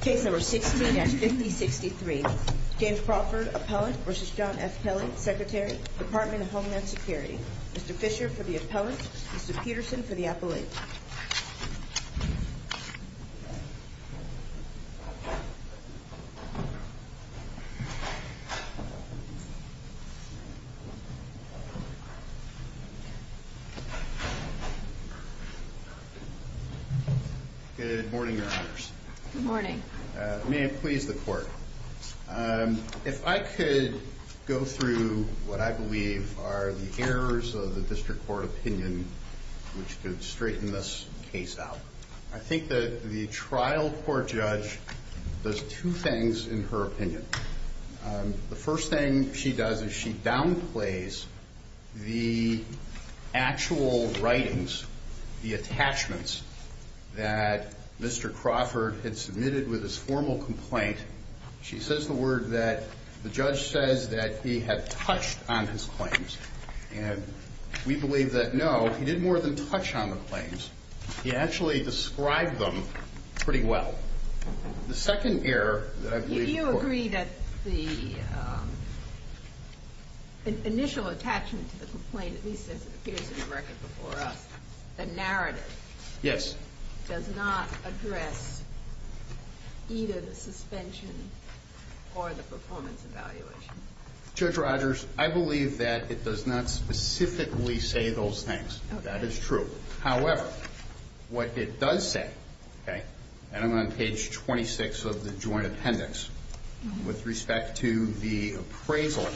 Case number 16 at 5063. James Crawford, appellant, v. John F. Kelly, Secretary, Department of Homeland Security. Mr. Fisher for the appellant. Mr. Peterson for the appellant. Good morning, your honors. Good morning. May it please the court. If I could go through what I believe are the errors of the district court opinion which could straighten this case out. I think the trial court judge does two things in her opinion. The first thing she does is she downplays the actual writings, the attachments that Mr. Crawford had submitted with his formal complaint. She says the word that the judge says that he had touched on his claims and we believe that no, he didn't more than touch on the claims. He actually described them pretty well. The second error that I believe... Do you agree that the initial attachment to the complaint, at least as it appears in the record before us, the narrative... Yes. Does not address either the suspension or the performance evaluation? Judge Rogers, I believe that it does not specifically say those things. That is true. However, what it does say... And I'm on page 26 of the joint appendix. With respect to the appraisal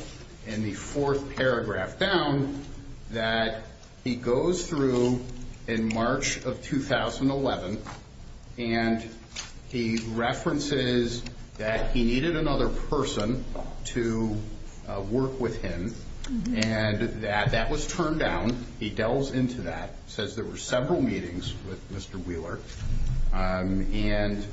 in the fourth paragraph down that he goes through in March of 2011 and he references that he needed another person to work with him and that that was turned down. He delves into that, says there were several meetings with Mr. Wheeler. And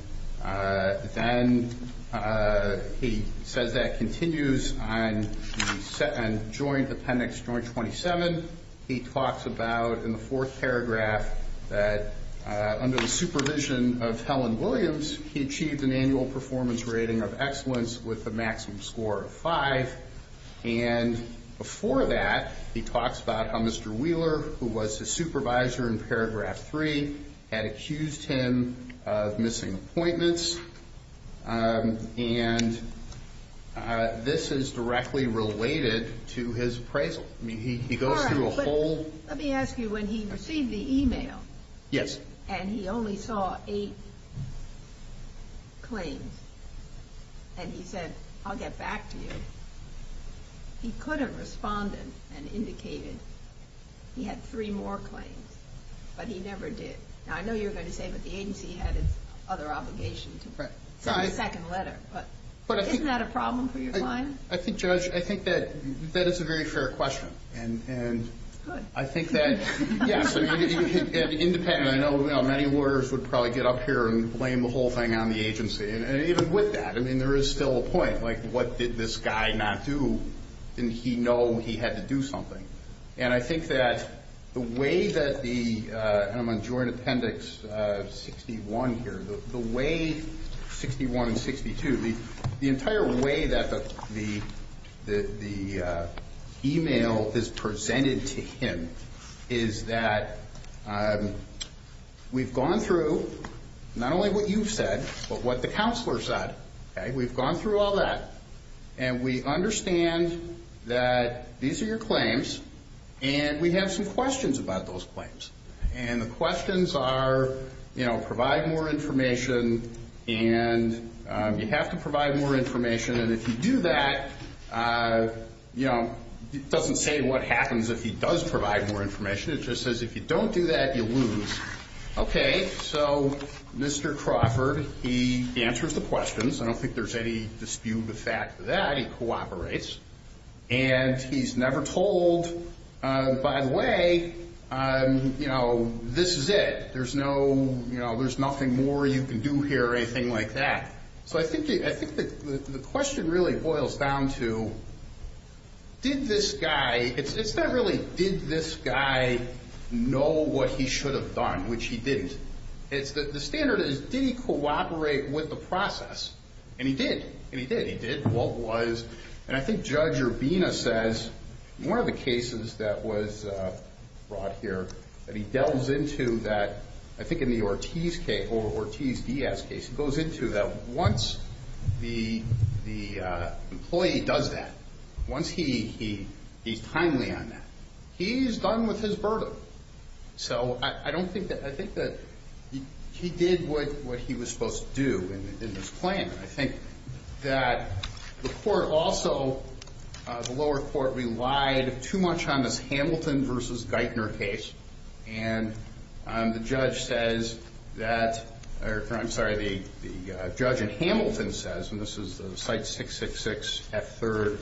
then he says that continues on the joint appendix, joint 27. He talks about in the fourth paragraph that under the supervision of Helen Williams, he achieved an annual performance rating of excellence with a maximum score of five. And before that, he talks about how Mr. Wheeler, who was the supervisor in paragraph three, had accused him of missing appointments. And this is directly related to his appraisal. He goes through a whole... All right, but let me ask you, when he received the email... Yes. And he only saw eight claims and he said, I'll get back to you, he couldn't respond and indicated he had three more claims. But he never did. Now, I know you were going to say, but the agency had its other obligation to send a second letter. But isn't that a problem for your client? I think, Judge, I think that that is a very fair question. And I think that... Good. Yes. And independently, I know many lawyers would probably get up here and blame the whole thing on the agency. And even with that, I mean, there is still a point, like, what did this guy not do? Didn't he know he had to do something? And I think that the way that the... And I'm on joint appendix 61 here. The way... 61 and 62. The entire way that the email is presented to him is that we've gone through not only what you've said, but what the counselor said. Okay? We've gone through all that. And we understand that these are your claims. And we have some questions about those claims. And the questions are, you know, provide more information. And you have to provide more information. And if you do that, you know, it doesn't say what happens if he does provide more information. It just says if you don't do that, you lose. Okay. So, Mr. Crawford, he answers the questions. I don't think there's any dispute with that. He cooperates. And he's never told, by the way, you know, this is it. There's no, you know, there's nothing more you can do here or anything like that. So, I think the question really boils down to, did this guy... It's not really, did this guy know what he should have done, which he didn't. It's that the standard is, did he cooperate with the process? And he did. And he did. He did. What was... And I think Judge Urbina says, one of the cases that was brought here, that he delves into that, I think in the Ortiz case, or Ortiz-Diaz case. He goes into that. Once the employee does that, once he's timely on that, he's done with his burden. So, I don't think that... I think that he did what he was supposed to do in this plan. I think that the court also, the lower court, relied too much on this Hamilton versus Geithner case. And the judge says that, or I'm sorry, the judge in Hamilton says, and this is the site 666 F3rd,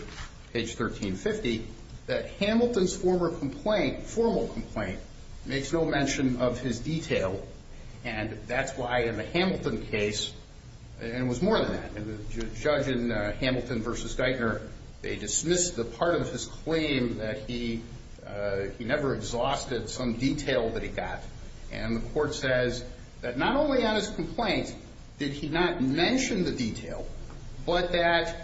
page 1350, that Hamilton's former complaint, formal complaint, makes no mention of his detail. And that's why in the Hamilton case, and it was more than that, the judge in Hamilton versus Geithner, they dismissed the part of his claim that he never exhausted some detail that he got. And the court says that not only on his complaint did he not mention the detail, but that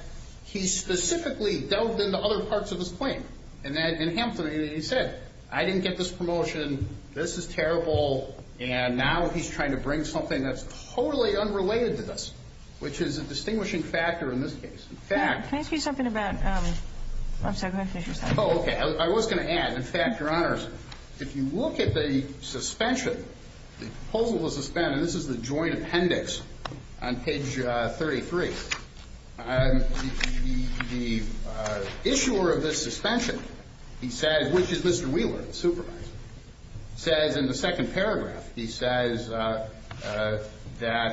he specifically delved into other parts of his claim. And in Hamilton, he said, I didn't get this promotion, this is terrible, and now he's trying to bring something that's totally unrelated to this, which is a distinguishing factor in this case. In fact... Can I ask you something about... I'm sorry, go ahead and finish your sentence. He says, which is Mr. Wheeler, the supervisor, says in the second paragraph, he says that,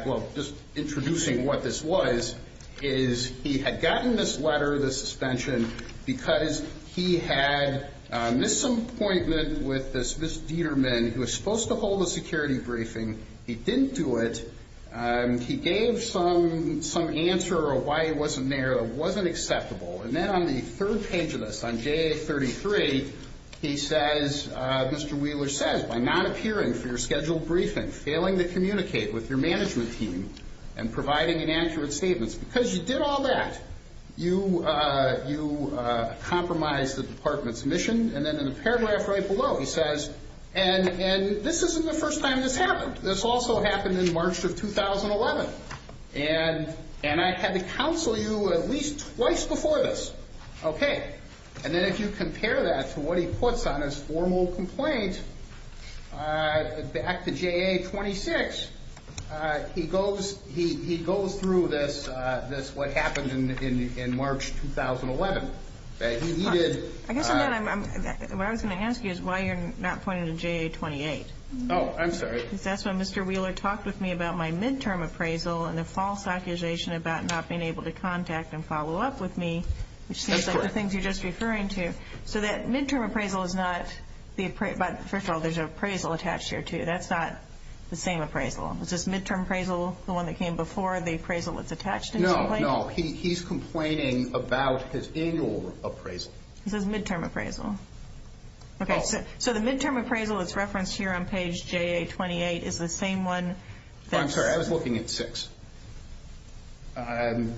well, just introducing what this was, is he had gotten this letter, this suspension, because he had a misappointment with this Ms. Dieterman who was supposed to hold a security briefing. He didn't do it. He gave some answer of why he wasn't there that wasn't acceptable. And then on the third page of this, on J33, he says, Mr. Wheeler says, by not appearing for your scheduled briefing, failing to communicate with your management team, and providing inaccurate statements, because you did all that, you compromised the department's mission. And then in the paragraph right below, he says, and this isn't the first time this happened. This also happened in March of 2011. And I had to counsel you at least twice before this. Okay. And then if you compare that to what he puts on his formal complaint, back to JA26, he goes through this, what happened in March 2011. I guess what I was going to ask you is why you're not pointing to JA28. Oh, I'm sorry. Because that's when Mr. Wheeler talked with me about my midterm appraisal and the false accusation about not being able to contact and follow up with me, which seems like the things you're just referring to. So that midterm appraisal is not the appraisal. But first of all, there's an appraisal attached here, too. That's not the same appraisal. Is this midterm appraisal the one that came before the appraisal that's attached in your complaint? No. He's complaining about his annual appraisal. This is midterm appraisal. Okay. So the midterm appraisal that's referenced here on page JA28 is the same one? I'm sorry. I was looking at six. Sorry.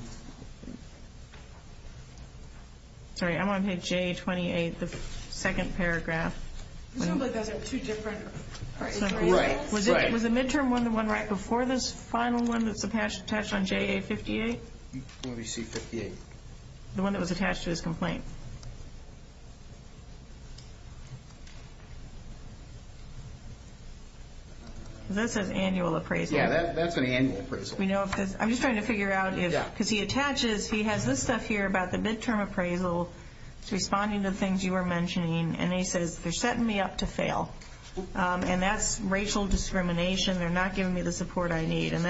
I'm on page JA28, the second paragraph. It sounds like those are two different appraisals. Right. Was the midterm one the one right before this final one that's attached on JA58? Let me see 58. The one that was attached to his complaint. That says annual appraisal. Yeah, that's an annual appraisal. I'm just trying to figure out if, because he attaches, he has this stuff here about the midterm appraisal responding to the things you were mentioning. And he says, they're setting me up to fail. And that's racial discrimination. They're not giving me the support I need. And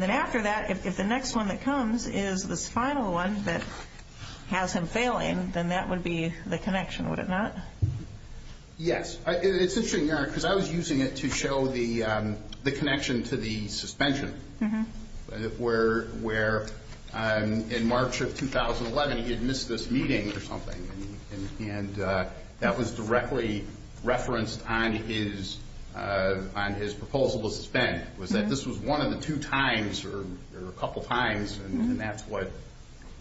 then after that, if the next one that comes is this final one that has him failing, then that would be the connection, would it not? Yes. It's interesting, Your Honor, because I was using it to show the connection to the suspension, where in March of 2011, he had missed this meeting or something. And that was directly referenced on his proposal to suspend, was that this was one of the two times, or a couple times, and that's what.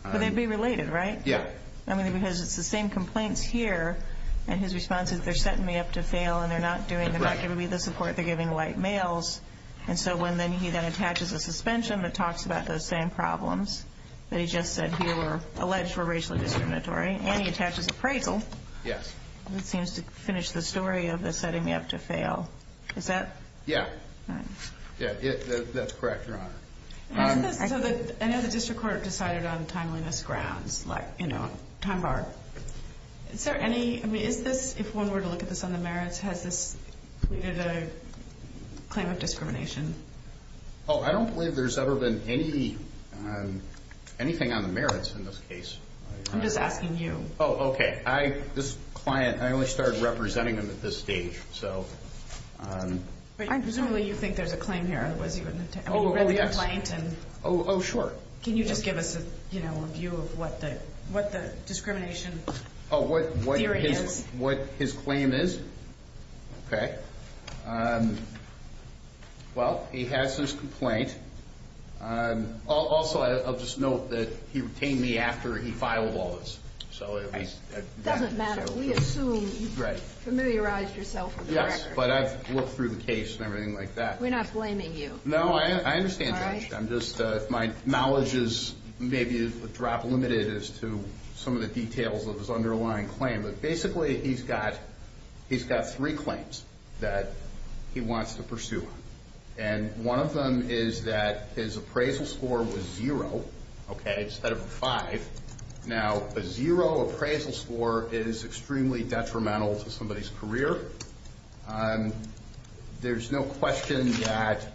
But they'd be related, right? Yeah. I mean, because it's the same complaints here, and his response is, they're setting me up to fail, and they're not giving me the support they're giving white males. And so when then he then attaches a suspension that talks about those same problems that he just said here were alleged were racially discriminatory, and he attaches appraisal. Yes. It seems to finish the story of the setting me up to fail. Is that? Yeah. Yeah, that's correct, Your Honor. I know the district court decided on timeliness grounds, like, you know, time bar. Is there any, I mean, is this, if one were to look at this on the merits, has this created a claim of discrimination? Oh, I don't believe there's ever been anything on the merits in this case. I'm just asking you. Oh, okay. This client, I only started representing him at this stage, so. Presumably you think there's a claim here, otherwise you wouldn't have to. Oh, yes. Oh, sure. Can you just give us a, you know, a view of what the discrimination theory is? Oh, what his claim is? Okay. Well, he has his complaint. Also, I'll just note that he retained me after he filed all this. It doesn't matter. We assume you've familiarized yourself with the record. Yes, but I've looked through the case and everything like that. We're not blaming you. No, I understand, Judge. I'm just, if my knowledge is maybe a drop limited as to some of the details of his underlying claim. But basically he's got three claims that he wants to pursue. And one of them is that his appraisal score was zero, okay, instead of a five. Now, a zero appraisal score is extremely detrimental to somebody's career. There's no question that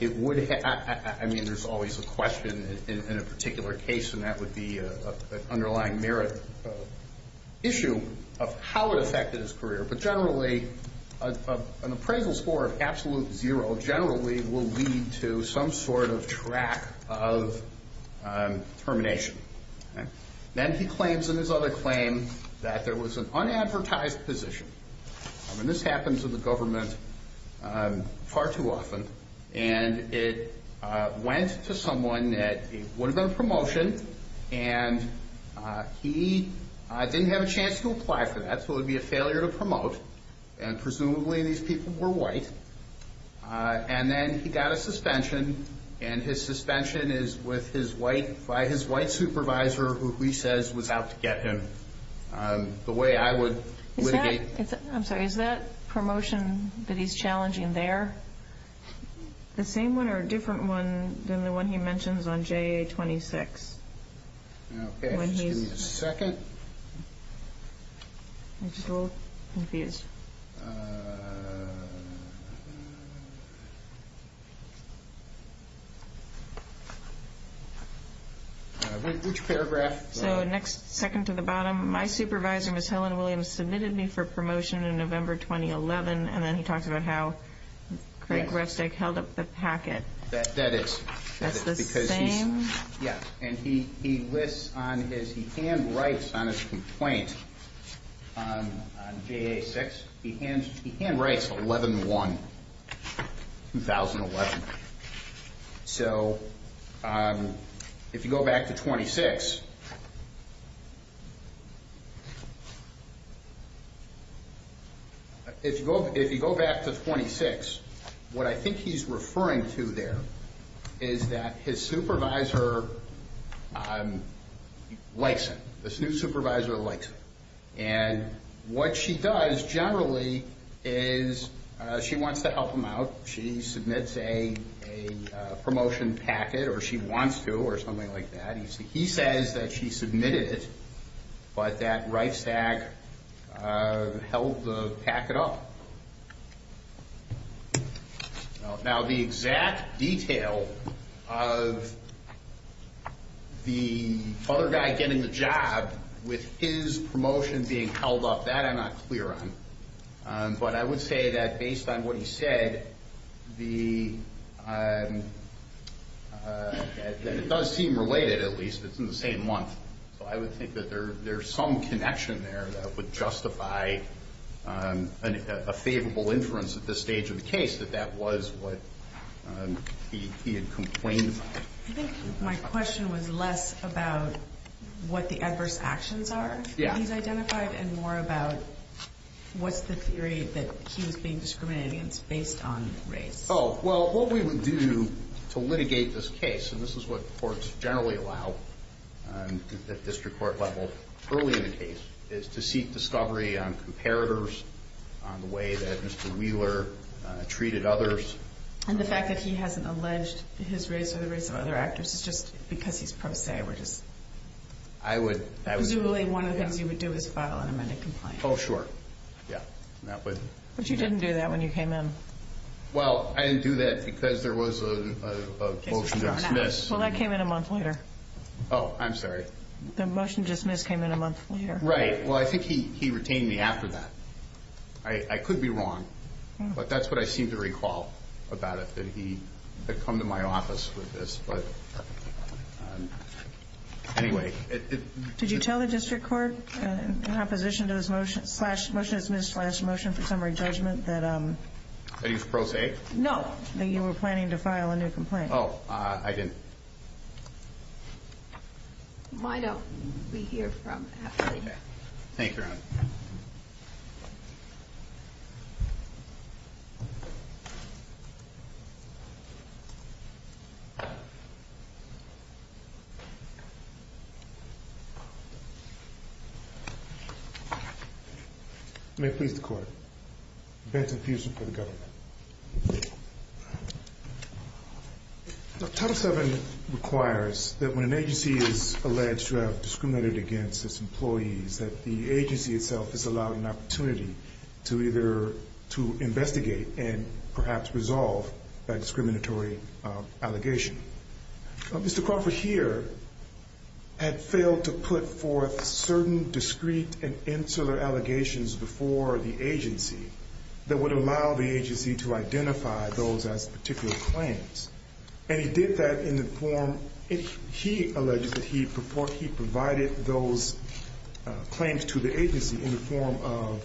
it would have, I mean, there's always a question in a particular case, and that would be an underlying merit issue of how it affected his career. But generally, an appraisal score of absolute zero generally will lead to some sort of track of termination. Then he claims in his other claim that there was an unadvertised position. I mean, this happens in the government far too often. And it went to someone that it would have been a promotion, and he didn't have a chance to apply for that, so it would be a failure to promote, and presumably these people were white. And then he got a suspension, and his suspension is by his white supervisor, who he says was out to get him. The way I would litigate. I'm sorry, is that promotion that he's challenging there the same one or a different one than the one he mentions on JA-26? Okay, just give me a second. I'm just a little confused. Which paragraph? So next second to the bottom. My supervisor, Ms. Helen Williams, submitted me for promotion in November 2011, and then he talks about how Craig Rustick held up the packet. That is. That's the same? Yeah, and he lists on his, he handwrites on his complaint on JA-6. He handwrites 11-1, 2011. So if you go back to 26, if you go back to 26, what I think he's referring to there is that his supervisor likes him. This new supervisor likes him, and what she does generally is she wants to help him out. She submits a promotion packet, or she wants to, or something like that. He says that she submitted it, but that right stack held the packet up. Now, the exact detail of the other guy getting the job with his promotion being held up, that I'm not clear on. But I would say that based on what he said, that it does seem related at least, it's in the same month. So I would think that there's some connection there that would justify a favorable inference at this stage of the case, that that was what he had complained about. I think my question was less about what the adverse actions are that he's identified and more about what's the theory that he was being discriminated against based on race. Oh, well, what we would do to litigate this case, and this is what courts generally allow at district court level early in a case, is to seek discovery on comparators, on the way that Mr. Wheeler treated others. And the fact that he hasn't alleged his race or the race of other actors is just because he's pro se. I would. Because really one of the things you would do is file an amended complaint. Oh, sure. Yeah. But you didn't do that when you came in. Well, I didn't do that because there was a motion to dismiss. Well, that came in a month later. Oh, I'm sorry. The motion to dismiss came in a month later. Right. Well, I think he retained me after that. I could be wrong, but that's what I seem to recall about it, that he had come to my office with this. Anyway. Did you tell the district court in opposition to this motion to dismiss slash motion for summary judgment that you were planning to file a new complaint? No. Oh, I didn't. Why don't we hear from Ashley? Okay. Thank you, Your Honor. May it please the Court. Benton Peterson for the government. Title VII requires that when an agency is alleged to have discriminated against its employees that the agency itself is allowed an opportunity to investigate and perhaps resolve that discriminatory allegation. Mr. Crawford here had failed to put forth certain discrete and insular allegations before the agency that would allow the agency to identify those as particular claims. And he did that in the form he alleged that he provided those claims to the agency in the form of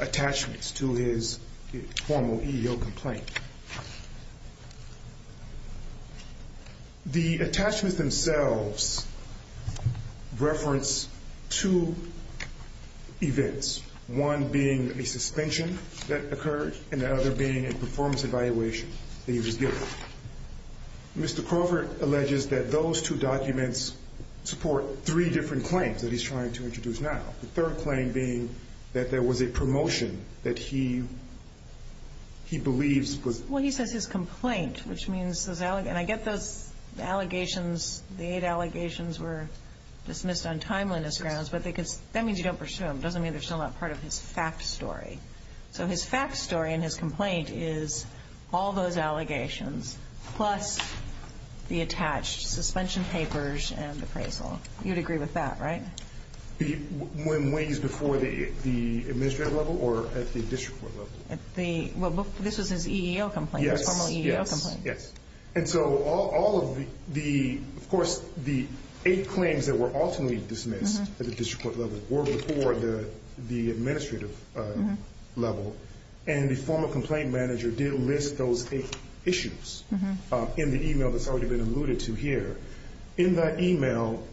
attachments to his formal EEO complaint. The attachments themselves reference two events, one being a suspension that Mr. Crawford alleges that those two documents support three different claims that he's trying to introduce now, the third claim being that there was a promotion that he believes was. Well, he says his complaint, which means, and I get those allegations, the eight allegations were dismissed on timeliness grounds, but that means you don't pursue them. It doesn't mean they're still not part of his fact story. So his fact story in his complaint is all those allegations plus the attached suspension papers and appraisal. You'd agree with that, right? When he's before the administrative level or at the district court level? This was his EEO complaint, his formal EEO complaint. Yes, yes. And so all of the, of course, the eight claims that were ultimately dismissed at the district court level were before the administrative level, and the former complaint manager did list those eight issues in the e-mail that's already been alluded to here. In that e-mail,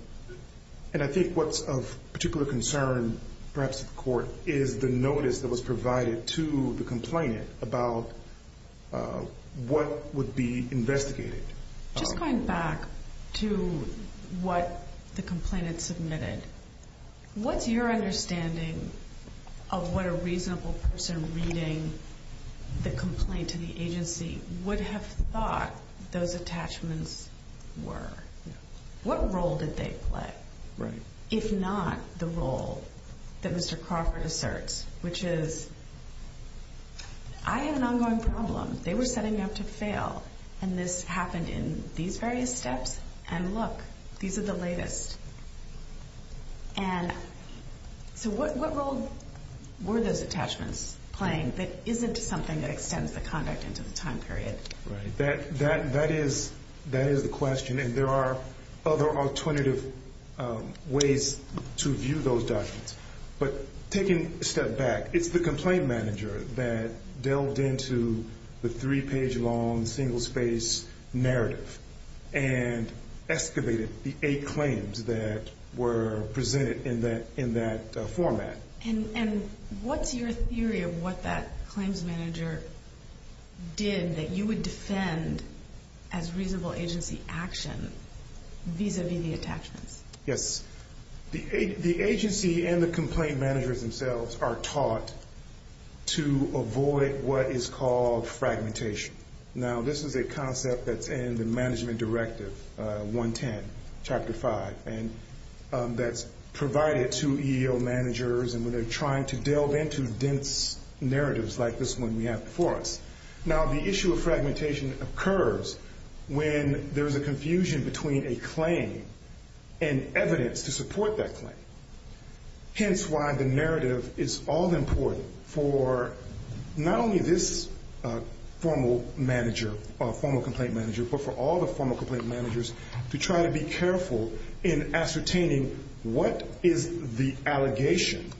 and I think what's of particular concern, perhaps, to the court is the notice that was provided to the complainant about what would be investigated. Just going back to what the complainant submitted, what's your understanding of what a reasonable person reading the complaint to the agency would have thought those attachments were? What role did they play, if not the role that Mr. Crawford asserts, which is, I have an ongoing problem. They were setting up to fail, and this happened in these various steps, and look, these are the latest. And so what role were those attachments playing that isn't something that extends the conduct into the time period? Right. That is the question, and there are other alternative ways to view those documents. But taking a step back, it's the complaint manager that delved into the three-page long single-space narrative and excavated the eight claims that were presented in that format. And what's your theory of what that claims manager did that you would defend as reasonable agency action vis-à-vis the attachments? Yes. The agency and the complaint managers themselves are taught to avoid what is called fragmentation. Now, this is a concept that's in the Management Directive 110, Chapter 5, and that's provided to EEO managers when they're trying to delve into dense narratives like this one we have before us. Now, the issue of fragmentation occurs when there's a confusion between a claim and evidence to support that claim, hence why the narrative is all important for not only this formal complaint manager but for all the formal complaint managers to try to be careful in ascertaining what is the allegation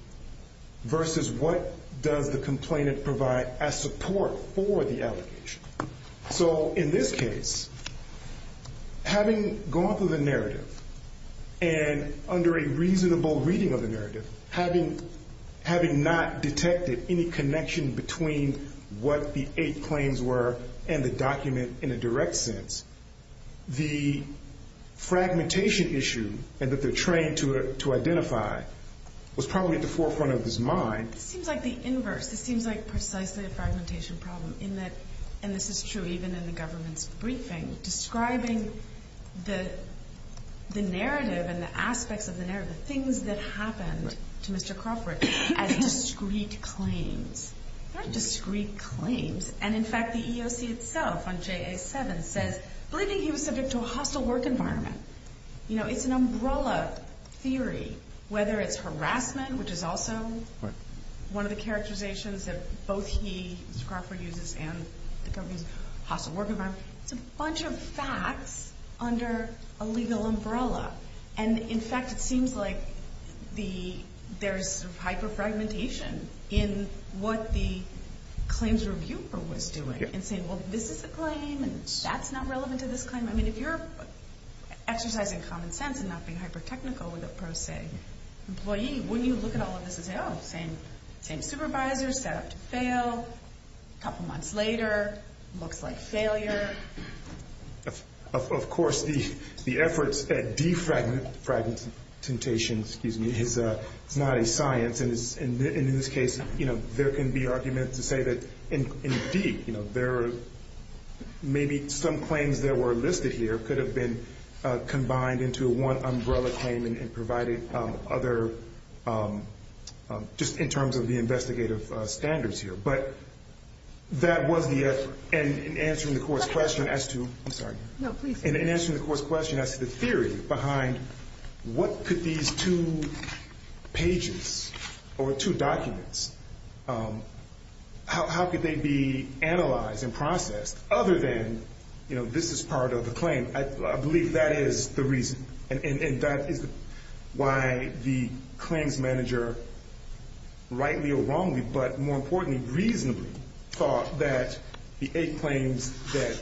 versus what does the complainant provide as support for the allegation. So in this case, having gone through the narrative and under a reasonable reading of the narrative, having not detected any connection between what the eight claims were and the document in a direct sense, the fragmentation issue that they're trained to identify was probably at the forefront of his mind. This seems like the inverse. This seems like precisely a fragmentation problem in that, and this is true even in the government's briefing, describing the narrative and the aspects of the narrative, the things that happened to Mr. Crawford, as discrete claims. They're not discrete claims. And in fact, the EEOC itself on JA-7 says, believing he was subject to a hostile work environment. It's an umbrella theory, whether it's harassment, which is also one of the characterizations that both he, Mr. Crawford, uses and the government's hostile work environment. It's a bunch of facts under a legal umbrella. And in fact, it seems like there's hyperfragmentation in what the claims reviewer was doing and saying, well, this is a claim and that's not relevant to this claim. I mean, if you're exercising common sense and not being hypertechnical with a pro se employee, wouldn't you look at all of this and say, oh, same supervisor, set up to fail, couple months later, looks like failure? Of course, the efforts at defragmentation is not a science. And in this case, there can be argument to say that, indeed, maybe some claims that were listed here could have been combined into one umbrella claim and provided other, just in terms of the investigative standards here. But that was the effort. And in answering the court's question as to the theory behind what could these two pages or two documents, how could they be analyzed and processed other than this is part of the claim, I believe that is the reason. And that is why the claims manager, rightly or wrongly, but more importantly, reasonably, thought that the eight claims that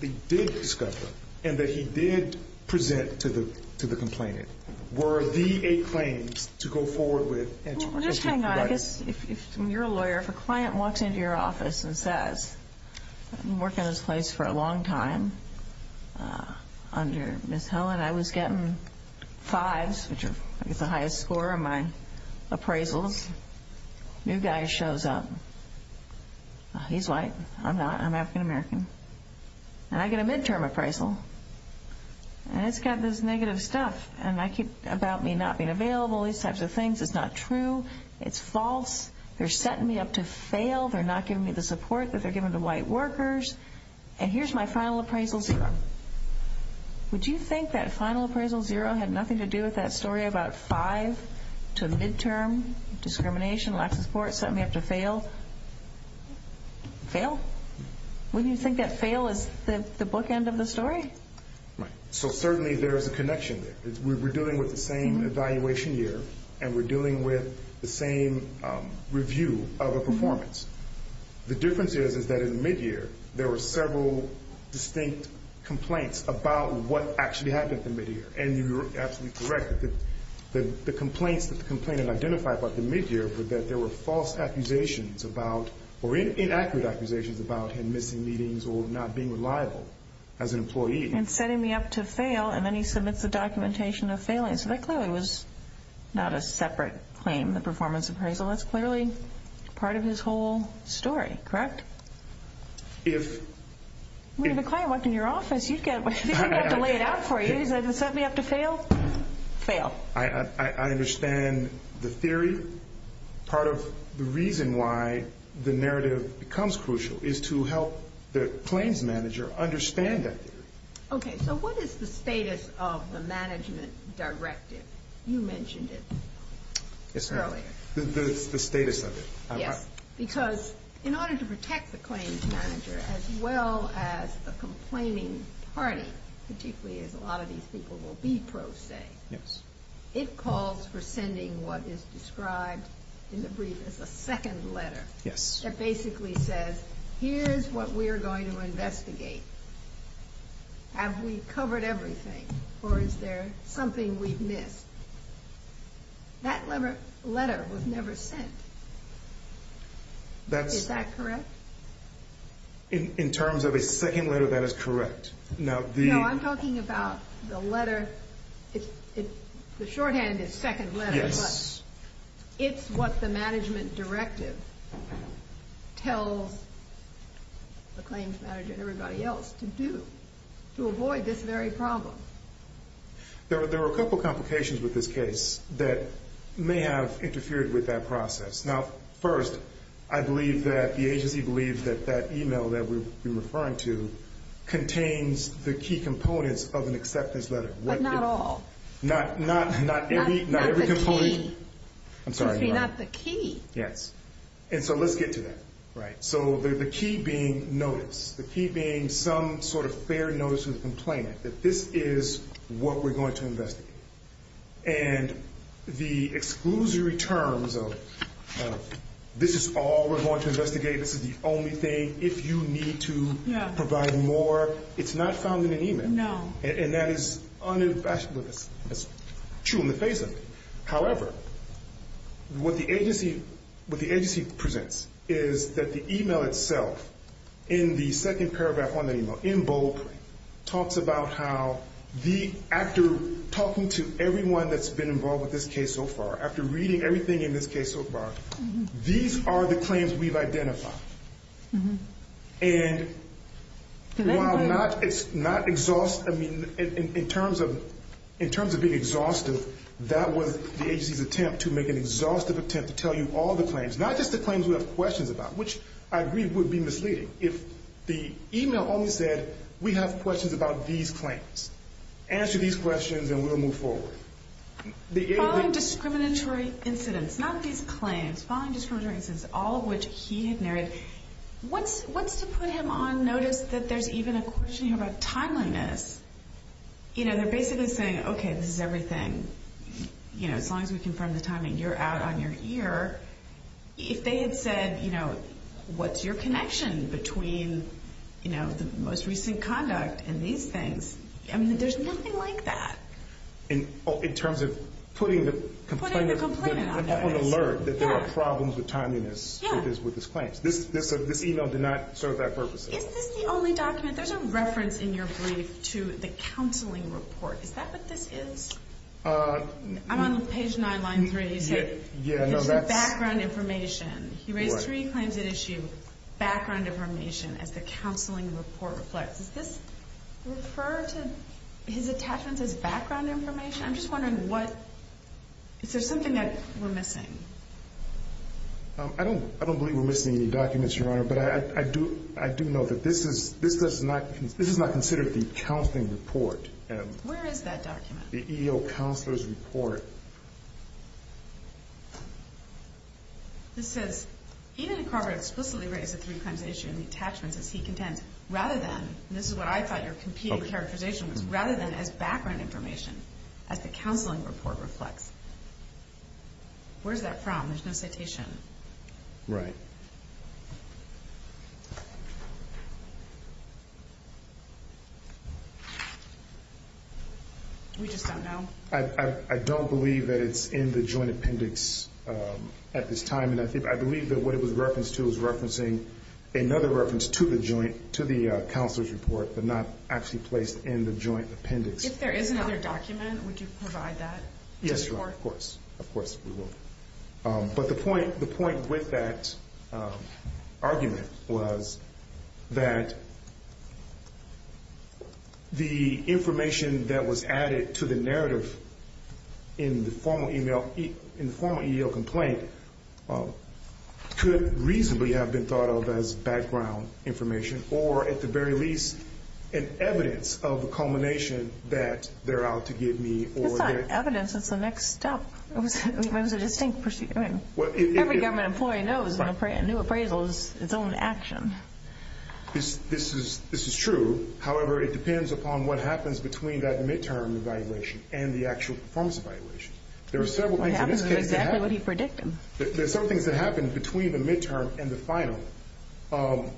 they did discover and that he did present to the complainant were the eight claims to go forward with. Well, just hang on. If you're a lawyer, if a client walks into your office and says, I've been working in this place for a long time under Ms. Helen, I was getting fives, which is the highest score in my appraisals. New guy shows up. He's white. I'm not. I'm African American. And I get a midterm appraisal. And it's got this negative stuff about me not being available, these types of things. It's not true. It's false. They're setting me up to fail. They're not giving me the support that they're giving to white workers. And here's my final appraisal zero. Would you think that final appraisal zero had nothing to do with that story about five to midterm discrimination, lack of support, setting me up to fail? Fail? Wouldn't you think that fail is the bookend of the story? So certainly there is a connection there. We're dealing with the same evaluation year, and we're dealing with the same review of a performance. The difference is that in the midyear, there were several distinct complaints about what actually happened in the midyear. And you're absolutely correct that the complaints that the complainant identified about the midyear were that there were false accusations about or inaccurate accusations about him missing meetings or not being reliable as an employee. And setting me up to fail, and then he submits the documentation of failing. So that clearly was not a separate claim, the performance appraisal. That's clearly part of his whole story, correct? If... If a client walked in your office, you'd have to lay it out for you. He said, they set me up to fail, fail. I understand the theory. Part of the reason why the narrative becomes crucial is to help the claims manager understand that theory. Okay. So what is the status of the management directive? You mentioned it earlier. The status of it. Yes. Because in order to protect the claims manager, as well as the complaining party, particularly as a lot of these people will be pro se, it calls for sending what is described in the brief as a second letter. Yes. That basically says, here's what we're going to investigate. Have we covered everything? Or is there something we've missed? That letter was never sent. Is that correct? In terms of a second letter, that is correct. No, I'm talking about the letter. The shorthand is second letter. Yes. It's what the management directive tells the claims manager and everybody else to do to avoid this very problem. There are a couple complications with this case that may have interfered with that process. Now, first, I believe that the agency believes that that email that we've been referring to contains the key components of an acceptance letter. But not all. Not every component. Not the key. I'm sorry. Not the key. Yes. And so let's get to that. Right. So the key being notice. The key being some sort of fair notice of the complainant, that this is what we're going to investigate. And the exclusory terms of this is all we're going to investigate, this is the only thing, if you need to provide more, it's not found in an email. No. And that is true in the face of it. However, what the agency presents is that the email itself, in the second paragraph on the email, in bold, talks about how the actor talking to everyone that's been involved with this case so far, after reading everything in this case so far, these are the claims we've identified. And while it's not exhaustive, I mean, in terms of being exhaustive, that was the agency's attempt to make an exhaustive attempt to tell you all the claims, not just the claims we have questions about, which I agree would be misleading. If the email only said we have questions about these claims, answer these questions and we'll move forward. Following discriminatory incidents, not these claims, following discriminatory incidents, all of which he had narrated, what's to put him on notice that there's even a question here about timeliness? You know, they're basically saying, okay, this is everything, you know, as long as we confirm the timing, you're out on your ear. If they had said, you know, what's your connection between, you know, the most recent conduct and these things, I mean, there's nothing like that. In terms of putting the complainant on notice. He was on alert that there were problems with timeliness with his claims. This email did not serve that purpose at all. Is this the only document? There's a reference in your brief to the counseling report. Is that what this is? I'm on page 9, line 3. It's your background information. He raised three claims at issue, background information as the counseling report reflects. Does this refer to his attachments as background information? I'm just wondering, is there something that we're missing? I don't believe we're missing any documents, Your Honor, but I do know that this is not considered the counseling report. Where is that document? The EEO Counselor's Report. This says, even if Carver explicitly raised the three claims at issue and the attachments as he contends, rather than, and this is what I thought your competing characterization was, rather than as background information as the counseling report reflects. Where is that from? There's no citation. Right. We just don't know. I don't believe that it's in the joint appendix at this time, and I believe that what it was referenced to was referencing another reference to the joint, the counselor's report, but not actually placed in the joint appendix. If there is another document, would you provide that? Yes, Your Honor, of course. Of course we will. But the point with that argument was that the information that was added to the narrative in the formal EEO complaint could reasonably have been thought of as background information or, at the very least, an evidence of the culmination that they're out to give me. It's not evidence. It's the next step. It was a distinct pursuit. Every government employee knows when a new appraisal is its own action. This is true. However, it depends upon what happens between that midterm evaluation and the actual performance evaluation. There are several things in this case that happen. What happens is exactly what he predicted. There are several things that happen between the midterm and the final, and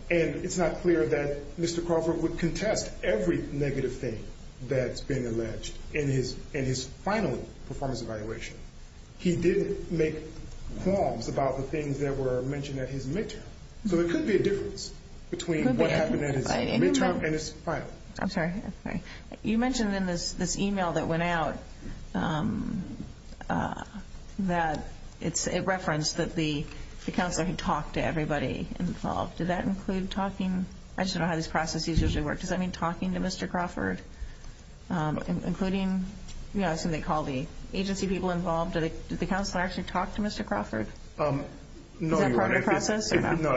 it's not clear that Mr. Crawford would contest every negative thing that's been alleged in his final performance evaluation. He didn't make qualms about the things that were mentioned at his midterm. So there could be a difference between what happened at his midterm and his final. I'm sorry. You mentioned in this e-mail that went out that it referenced that the counselor had talked to everybody involved. Did that include talking? I just don't know how these processes usually work. Does that mean talking to Mr. Crawford, including the agency people involved? Did the counselor actually talk to Mr. Crawford? No, Your Honor. Is that part of the process? No.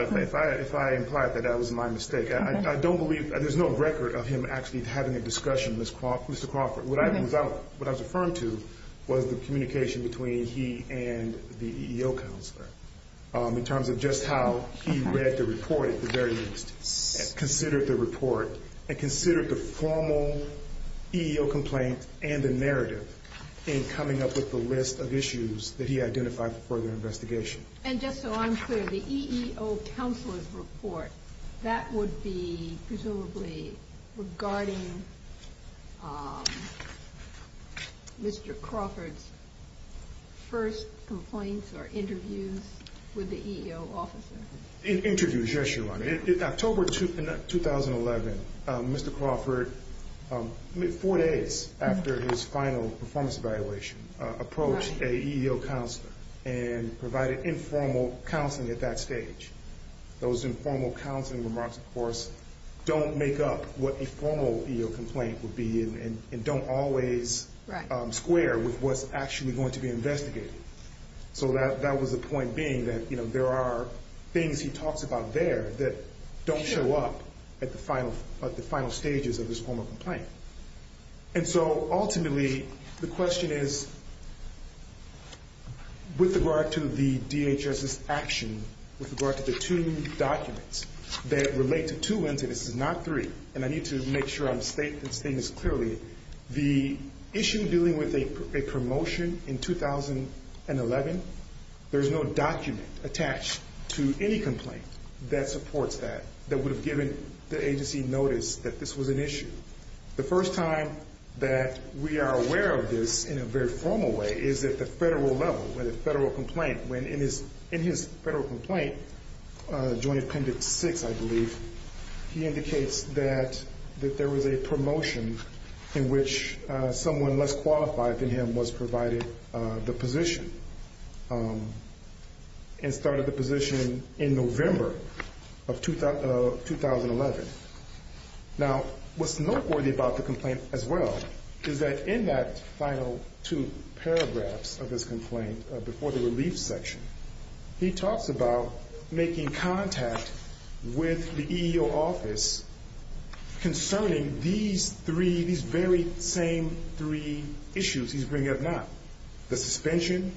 If I implied that that was my mistake, I don't believe. There's no record of him actually having a discussion with Mr. Crawford. What I was referring to was the communication between he and the EEO counselor in terms of just how he read the report at the very least, considered the report, and considered the formal EEO complaint and the narrative in coming up with the list of issues that he identified for further investigation. And just so I'm clear, the EEO counselor's report, that would be presumably regarding Mr. Crawford's first complaints or interviews with the EEO officer? In interviews, yes, Your Honor. In October 2011, Mr. Crawford, four days after his final performance evaluation, approached an EEO counselor and provided informal counseling at that stage. Those informal counseling remarks, of course, don't make up what a formal EEO complaint would be and don't always square with what's actually going to be investigated. So that was the point being that, you know, there are things he talks about there that don't show up at the final stages of his formal complaint. And so ultimately, the question is, with regard to the DHS's action, with regard to the two documents that relate to two instances, not three, and I need to make sure I'm stating this clearly, the issue dealing with a promotion in 2011, there's no document attached to any complaint that supports that, that would have given the agency notice that this was an issue. The first time that we are aware of this in a very formal way is at the federal level, where the federal complaint, when in his federal complaint, Joint Appendix 6, I believe, he indicates that there was a promotion in which someone less qualified than him was provided the position and started the position in November of 2011. Now, what's noteworthy about the complaint as well is that in that final two paragraphs of his complaint, before the relief section, he talks about making contact with the EEO office concerning these three, these very same three issues he's bringing up now. The suspension,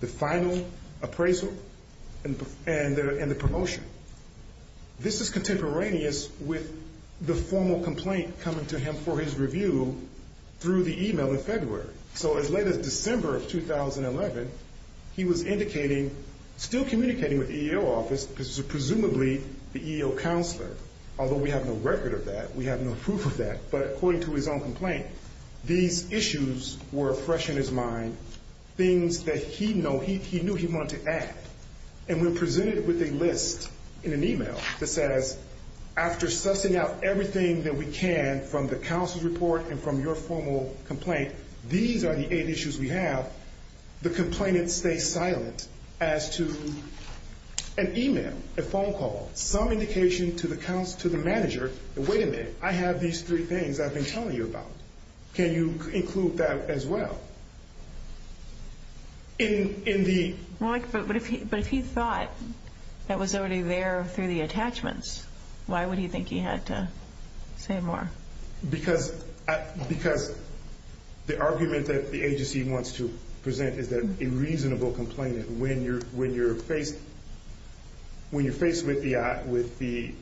the final appraisal, and the promotion. This is contemporaneous with the formal complaint coming to him for his review through the e-mail in February. So as late as December of 2011, he was indicating, still communicating with the EEO office, because he's presumably the EEO counselor, although we have no record of that, we have no proof of that, but according to his own complaint, these issues were fresh in his mind, things that he knew he wanted to add. And when presented with a list in an e-mail that says, after sussing out everything that we can from the counselor's report and from your formal complaint, these are the eight issues we have, the complainant stays silent as to an e-mail, a phone call, some indication to the manager, wait a minute, I have these three things I've been telling you about. Can you include that as well? But if he thought that was already there through the attachments, why would he think he had to say more? Because the argument that the agency wants to present is that a reasonable complainant, when you're faced with the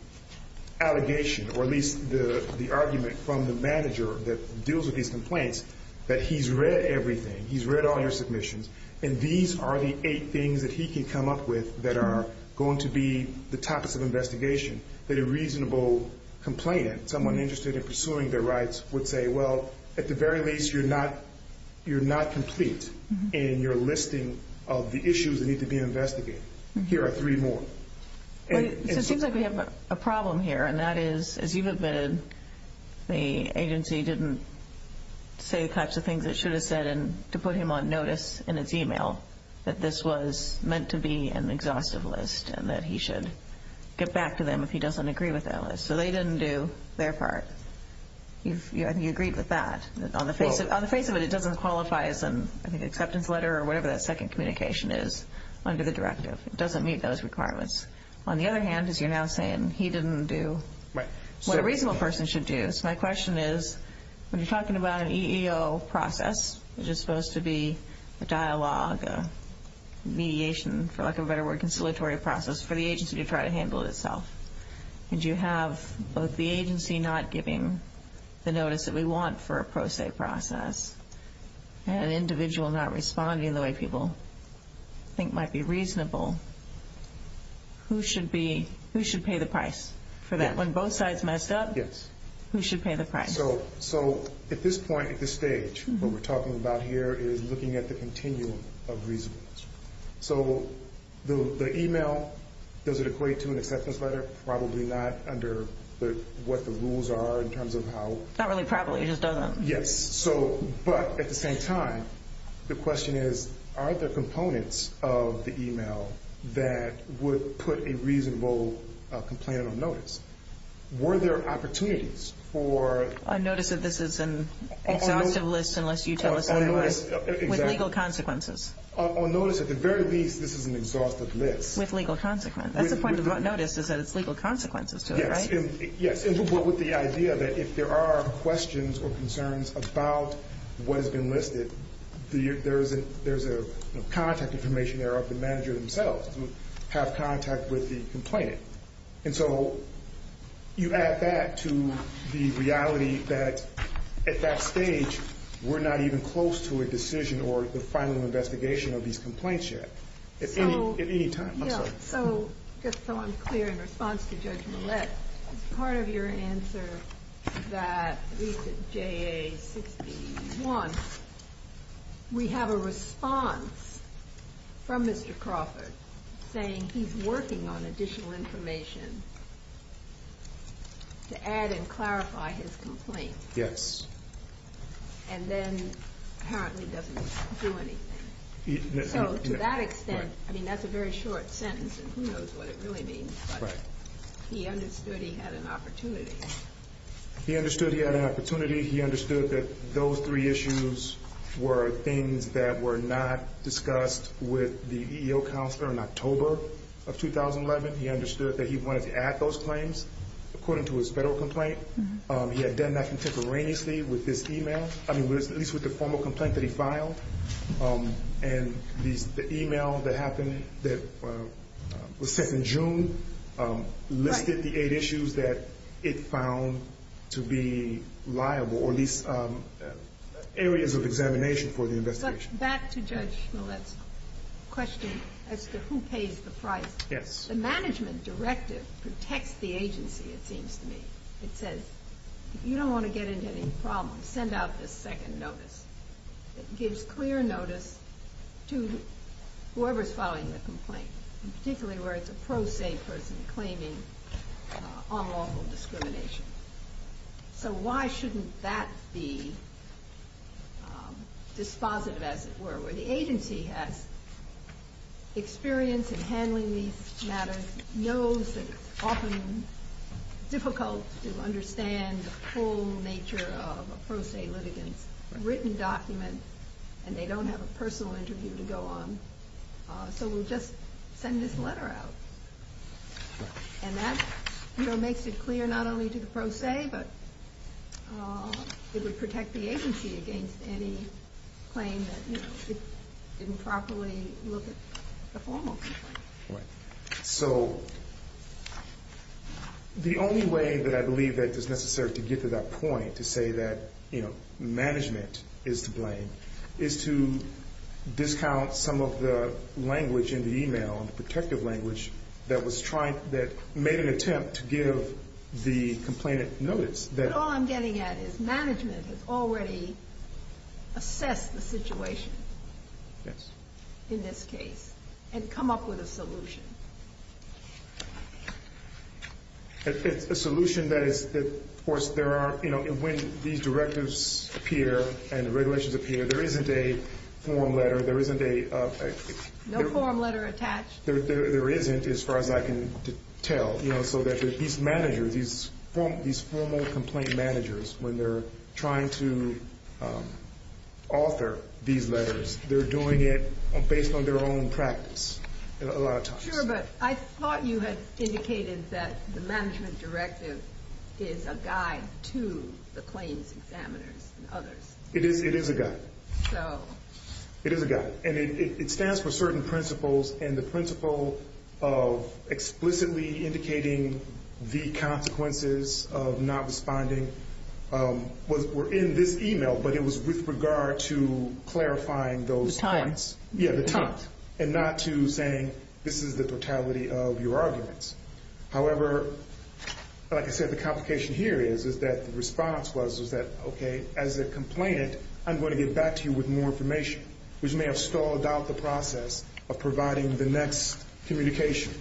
allegation, or at least the argument from the manager that deals with these complaints, that he's read everything, he's read all your submissions, and these are the eight things that he can come up with that are going to be the topics of investigation, that a reasonable complainant, someone interested in pursuing their rights, would say, well, at the very least, you're not complete in your listing of the issues that need to be investigated. Here are three more. It seems like we have a problem here, and that is, as you've admitted, the agency didn't say the kinds of things it should have said to put him on notice in its e-mail, that this was meant to be an exhaustive list and that he should get back to them if he doesn't agree with that list. So they didn't do their part. But you agreed with that, that on the face of it, it doesn't qualify as an acceptance letter or whatever that second communication is under the directive. It doesn't meet those requirements. On the other hand, as you're now saying, he didn't do what a reasonable person should do. So my question is, when you're talking about an EEO process, which is supposed to be a dialogue, a mediation, for lack of a better word, a conciliatory process for the agency to try to handle itself, and you have both the agency not giving the notice that we want for a pro se process and an individual not responding the way people think might be reasonable, who should pay the price for that? When both sides messed up, who should pay the price? So at this point, at this stage, what we're talking about here is looking at the continuum of reasonableness. So the email, does it equate to an acceptance letter? Probably not under what the rules are in terms of how. Not really probably, it just doesn't. Yes. But at the same time, the question is, are there components of the email that would put a reasonable complainant on notice? Were there opportunities for... A notice that this is an exhaustive list unless you tell us otherwise. With legal consequences. On notice, at the very least, this is an exhaustive list. With legal consequences. That's the point of the notice is that it's legal consequences to it, right? Yes. But with the idea that if there are questions or concerns about what has been listed, there's a contact information there of the manager themselves who have contact with the complainant. And so you add that to the reality that at that stage, we're not even close to a decision or the final investigation of these complaints yet. At any time. I'm sorry. Just so I'm clear in response to Judge Millett, as part of your answer that at least at JA-61, we have a response from Mr. Crawford saying he's working on additional information to add and clarify his complaint. Yes. And then apparently doesn't do anything. So to that extent, I mean, that's a very short sentence, and who knows what it really means. Right. He understood he had an opportunity. He understood he had an opportunity. He understood that those three issues were things that were not discussed with the EEO counselor in October of 2011. He understood that he wanted to add those claims according to his federal complaint. He had done that contemporaneously with this e-mail. I mean, at least with the formal complaint that he filed. And the e-mail that happened that was sent in June listed the eight issues that it found to be liable, or at least areas of examination for the investigation. But back to Judge Millett's question as to who pays the price. Yes. The management directive protects the agency, it seems to me. It says if you don't want to get into any problems, send out this second notice. It gives clear notice to whoever is filing the complaint, particularly where it's a pro se person claiming unlawful discrimination. So why shouldn't that be dispositive, as it were, The agency has experience in handling these matters, knows that it's often difficult to understand the full nature of a pro se litigant's written document, and they don't have a personal interview to go on. So we'll just send this letter out. And that makes it clear not only to the pro se, but it would protect the agency against any claim that it didn't properly look at the formal complaint. Right. So the only way that I believe that it is necessary to get to that point, to say that management is to blame, is to discount some of the language in the e-mail, the protective language that made an attempt to give the complainant notice. But all I'm getting at is management has already assessed the situation. Yes. In this case, and come up with a solution. It's a solution that, of course, when these directives appear and regulations appear, there isn't a form letter, there isn't a No form letter attached? There isn't, as far as I can tell. So that these managers, these formal complaint managers, when they're trying to author these letters, they're doing it based on their own practice a lot of times. Sure, but I thought you had indicated that the management directive is a guide to the claims examiners and others. It is a guide. It is a guide. And it stands for certain principles, and the principle of explicitly indicating the consequences of not responding were in this e-mail, but it was with regard to clarifying those points. The time. Yeah, the time. And not to saying, this is the totality of your arguments. However, like I said, the complication here is that the response was that, okay, as a complainant, I'm going to get back to you with more information, which may have stalled out the process of providing the next communication.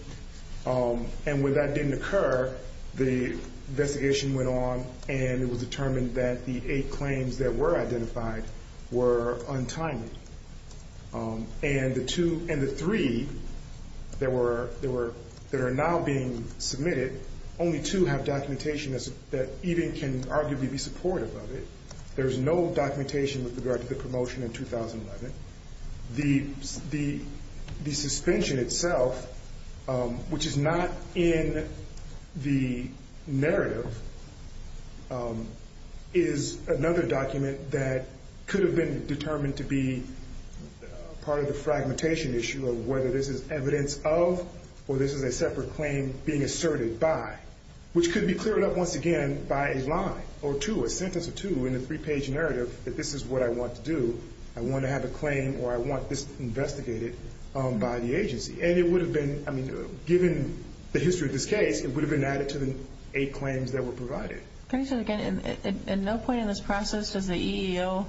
And when that didn't occur, the investigation went on, and it was determined that the eight claims that were identified were untimely. And the two and the three that are now being submitted, only two have documentation that even can arguably be supportive of it. There is no documentation with regard to the promotion in 2011. The suspension itself, which is not in the narrative, is another document that could have been determined to be part of the fragmentation issue of whether this is evidence of or this is a separate claim being asserted by, which could be cleared up once again by a line or two, a sentence or two, in a three-page narrative that this is what I want to do. I want to have a claim or I want this investigated by the agency. And it would have been, I mean, given the history of this case, it would have been added to the eight claims that were provided. Can I say that again? At no point in this process does the EEO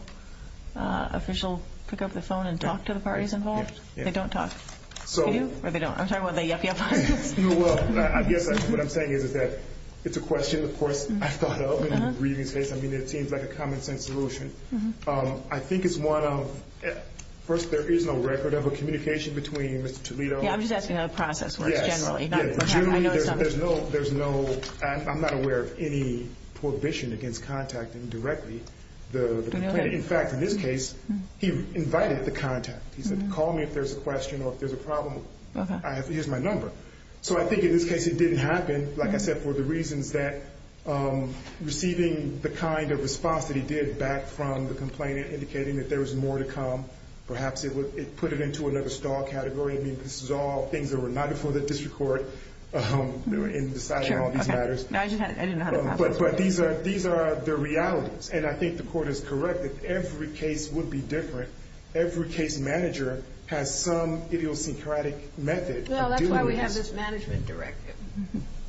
official pick up the phone and talk to the parties involved? No, they don't talk. They do? Or they don't? I'm talking about the EEO process. Well, I guess what I'm saying is that it's a question, of course, I thought of in the previous case. I mean, it seems like a common-sense solution. I think it's one of, first, there is no record of a communication between Mr. Toledo. Yeah, I'm just asking how the process works generally. There's no, I'm not aware of any prohibition against contacting directly the plaintiff. In fact, in this case, he invited the contact. He said, call me if there's a question or if there's a problem. Here's my number. So I think in this case it didn't happen, like I said, for the reasons that receiving the kind of response that he did back from the complainant indicating that there was more to come. Perhaps it put it into another star category. I mean, this is all things that were not before the district court in deciding all these matters. I didn't know how the process works. But these are the realities. And I think the court is correct that every case would be different. Every case manager has some idiosyncratic method. Well, that's why we have this management directive.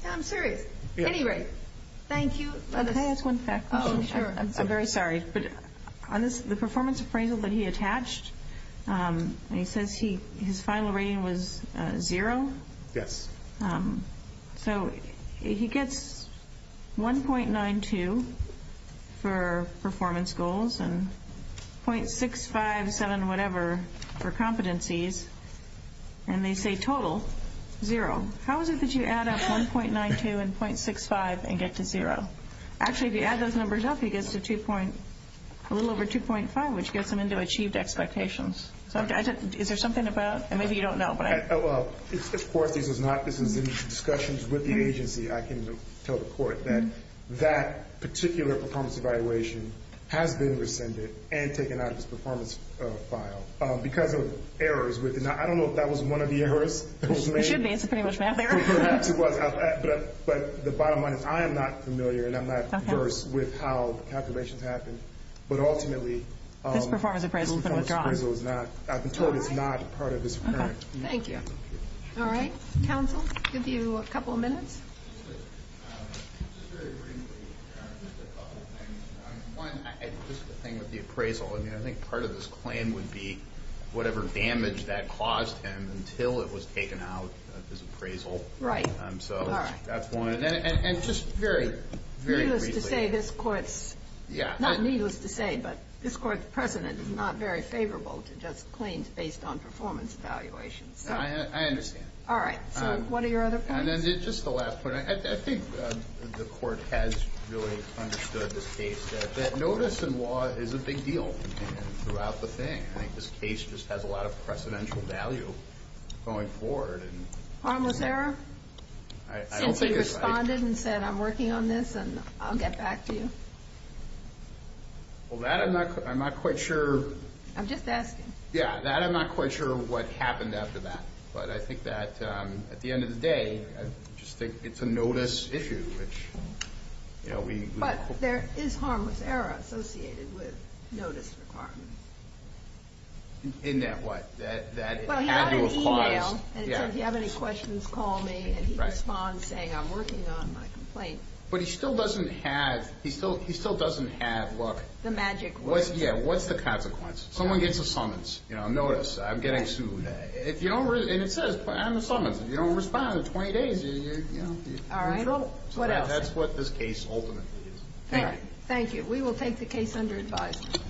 I'm serious. At any rate, thank you. Can I ask one question? Sure. I'm very sorry. But on the performance appraisal that he attached, he says his final rating was zero. Yes. So he gets 1.92 for performance goals and .657, whatever, for competencies. And they say total, zero. How is it that you add up 1.92 and .65 and get to zero? Actually, if you add those numbers up, he gets a little over 2.5, which gets him into achieved expectations. Is there something about it? Maybe you don't know. Of course there is not. This is in discussions with the agency. I can tell the court that that particular performance evaluation has been rescinded and taken out of his performance file because of errors. I don't know if that was one of the errors that was made. It should be. It's a pretty much math error. Perhaps it was. But the bottom line is I am not familiar, and I'm not averse, with how calculations happen. But ultimately, this performance appraisal has been withdrawn. I can tell you it's not part of this appraisal. Thank you. All right. Counsel, give you a couple of minutes. Just very briefly, just a couple of things. One, just the thing with the appraisal. I think part of this claim would be whatever damage that caused him until it was taken out of his appraisal. Right. So that's one. And just very, very briefly. Not needless to say, but this court's precedent is not very favorable to just claims based on performance evaluations. I understand. All right. So what are your other points? Just the last point. I think the court has really understood this case, that notice in law is a big deal throughout the thing. I think this case just has a lot of precedential value going forward. Harmless error? Since he responded and said, I'm working on this, and I'll get back to you. Well, that I'm not quite sure. I'm just asking. Yeah, that I'm not quite sure what happened after that. But I think that at the end of the day, I just think it's a notice issue. But there is harmless error associated with notice requirements. In that what? Well, he had an email. And it said, if you have any questions, call me. And he responds saying, I'm working on my complaint. But he still doesn't have, look. The magic words. Yeah, what's the consequence? Someone gets a summons. Notice, I'm getting sued. And it says, I have a summons. If you don't respond in 20 days, you're in trouble. All right, well, what else? That's what this case ultimately is. Thank you. We will take the case under advisement.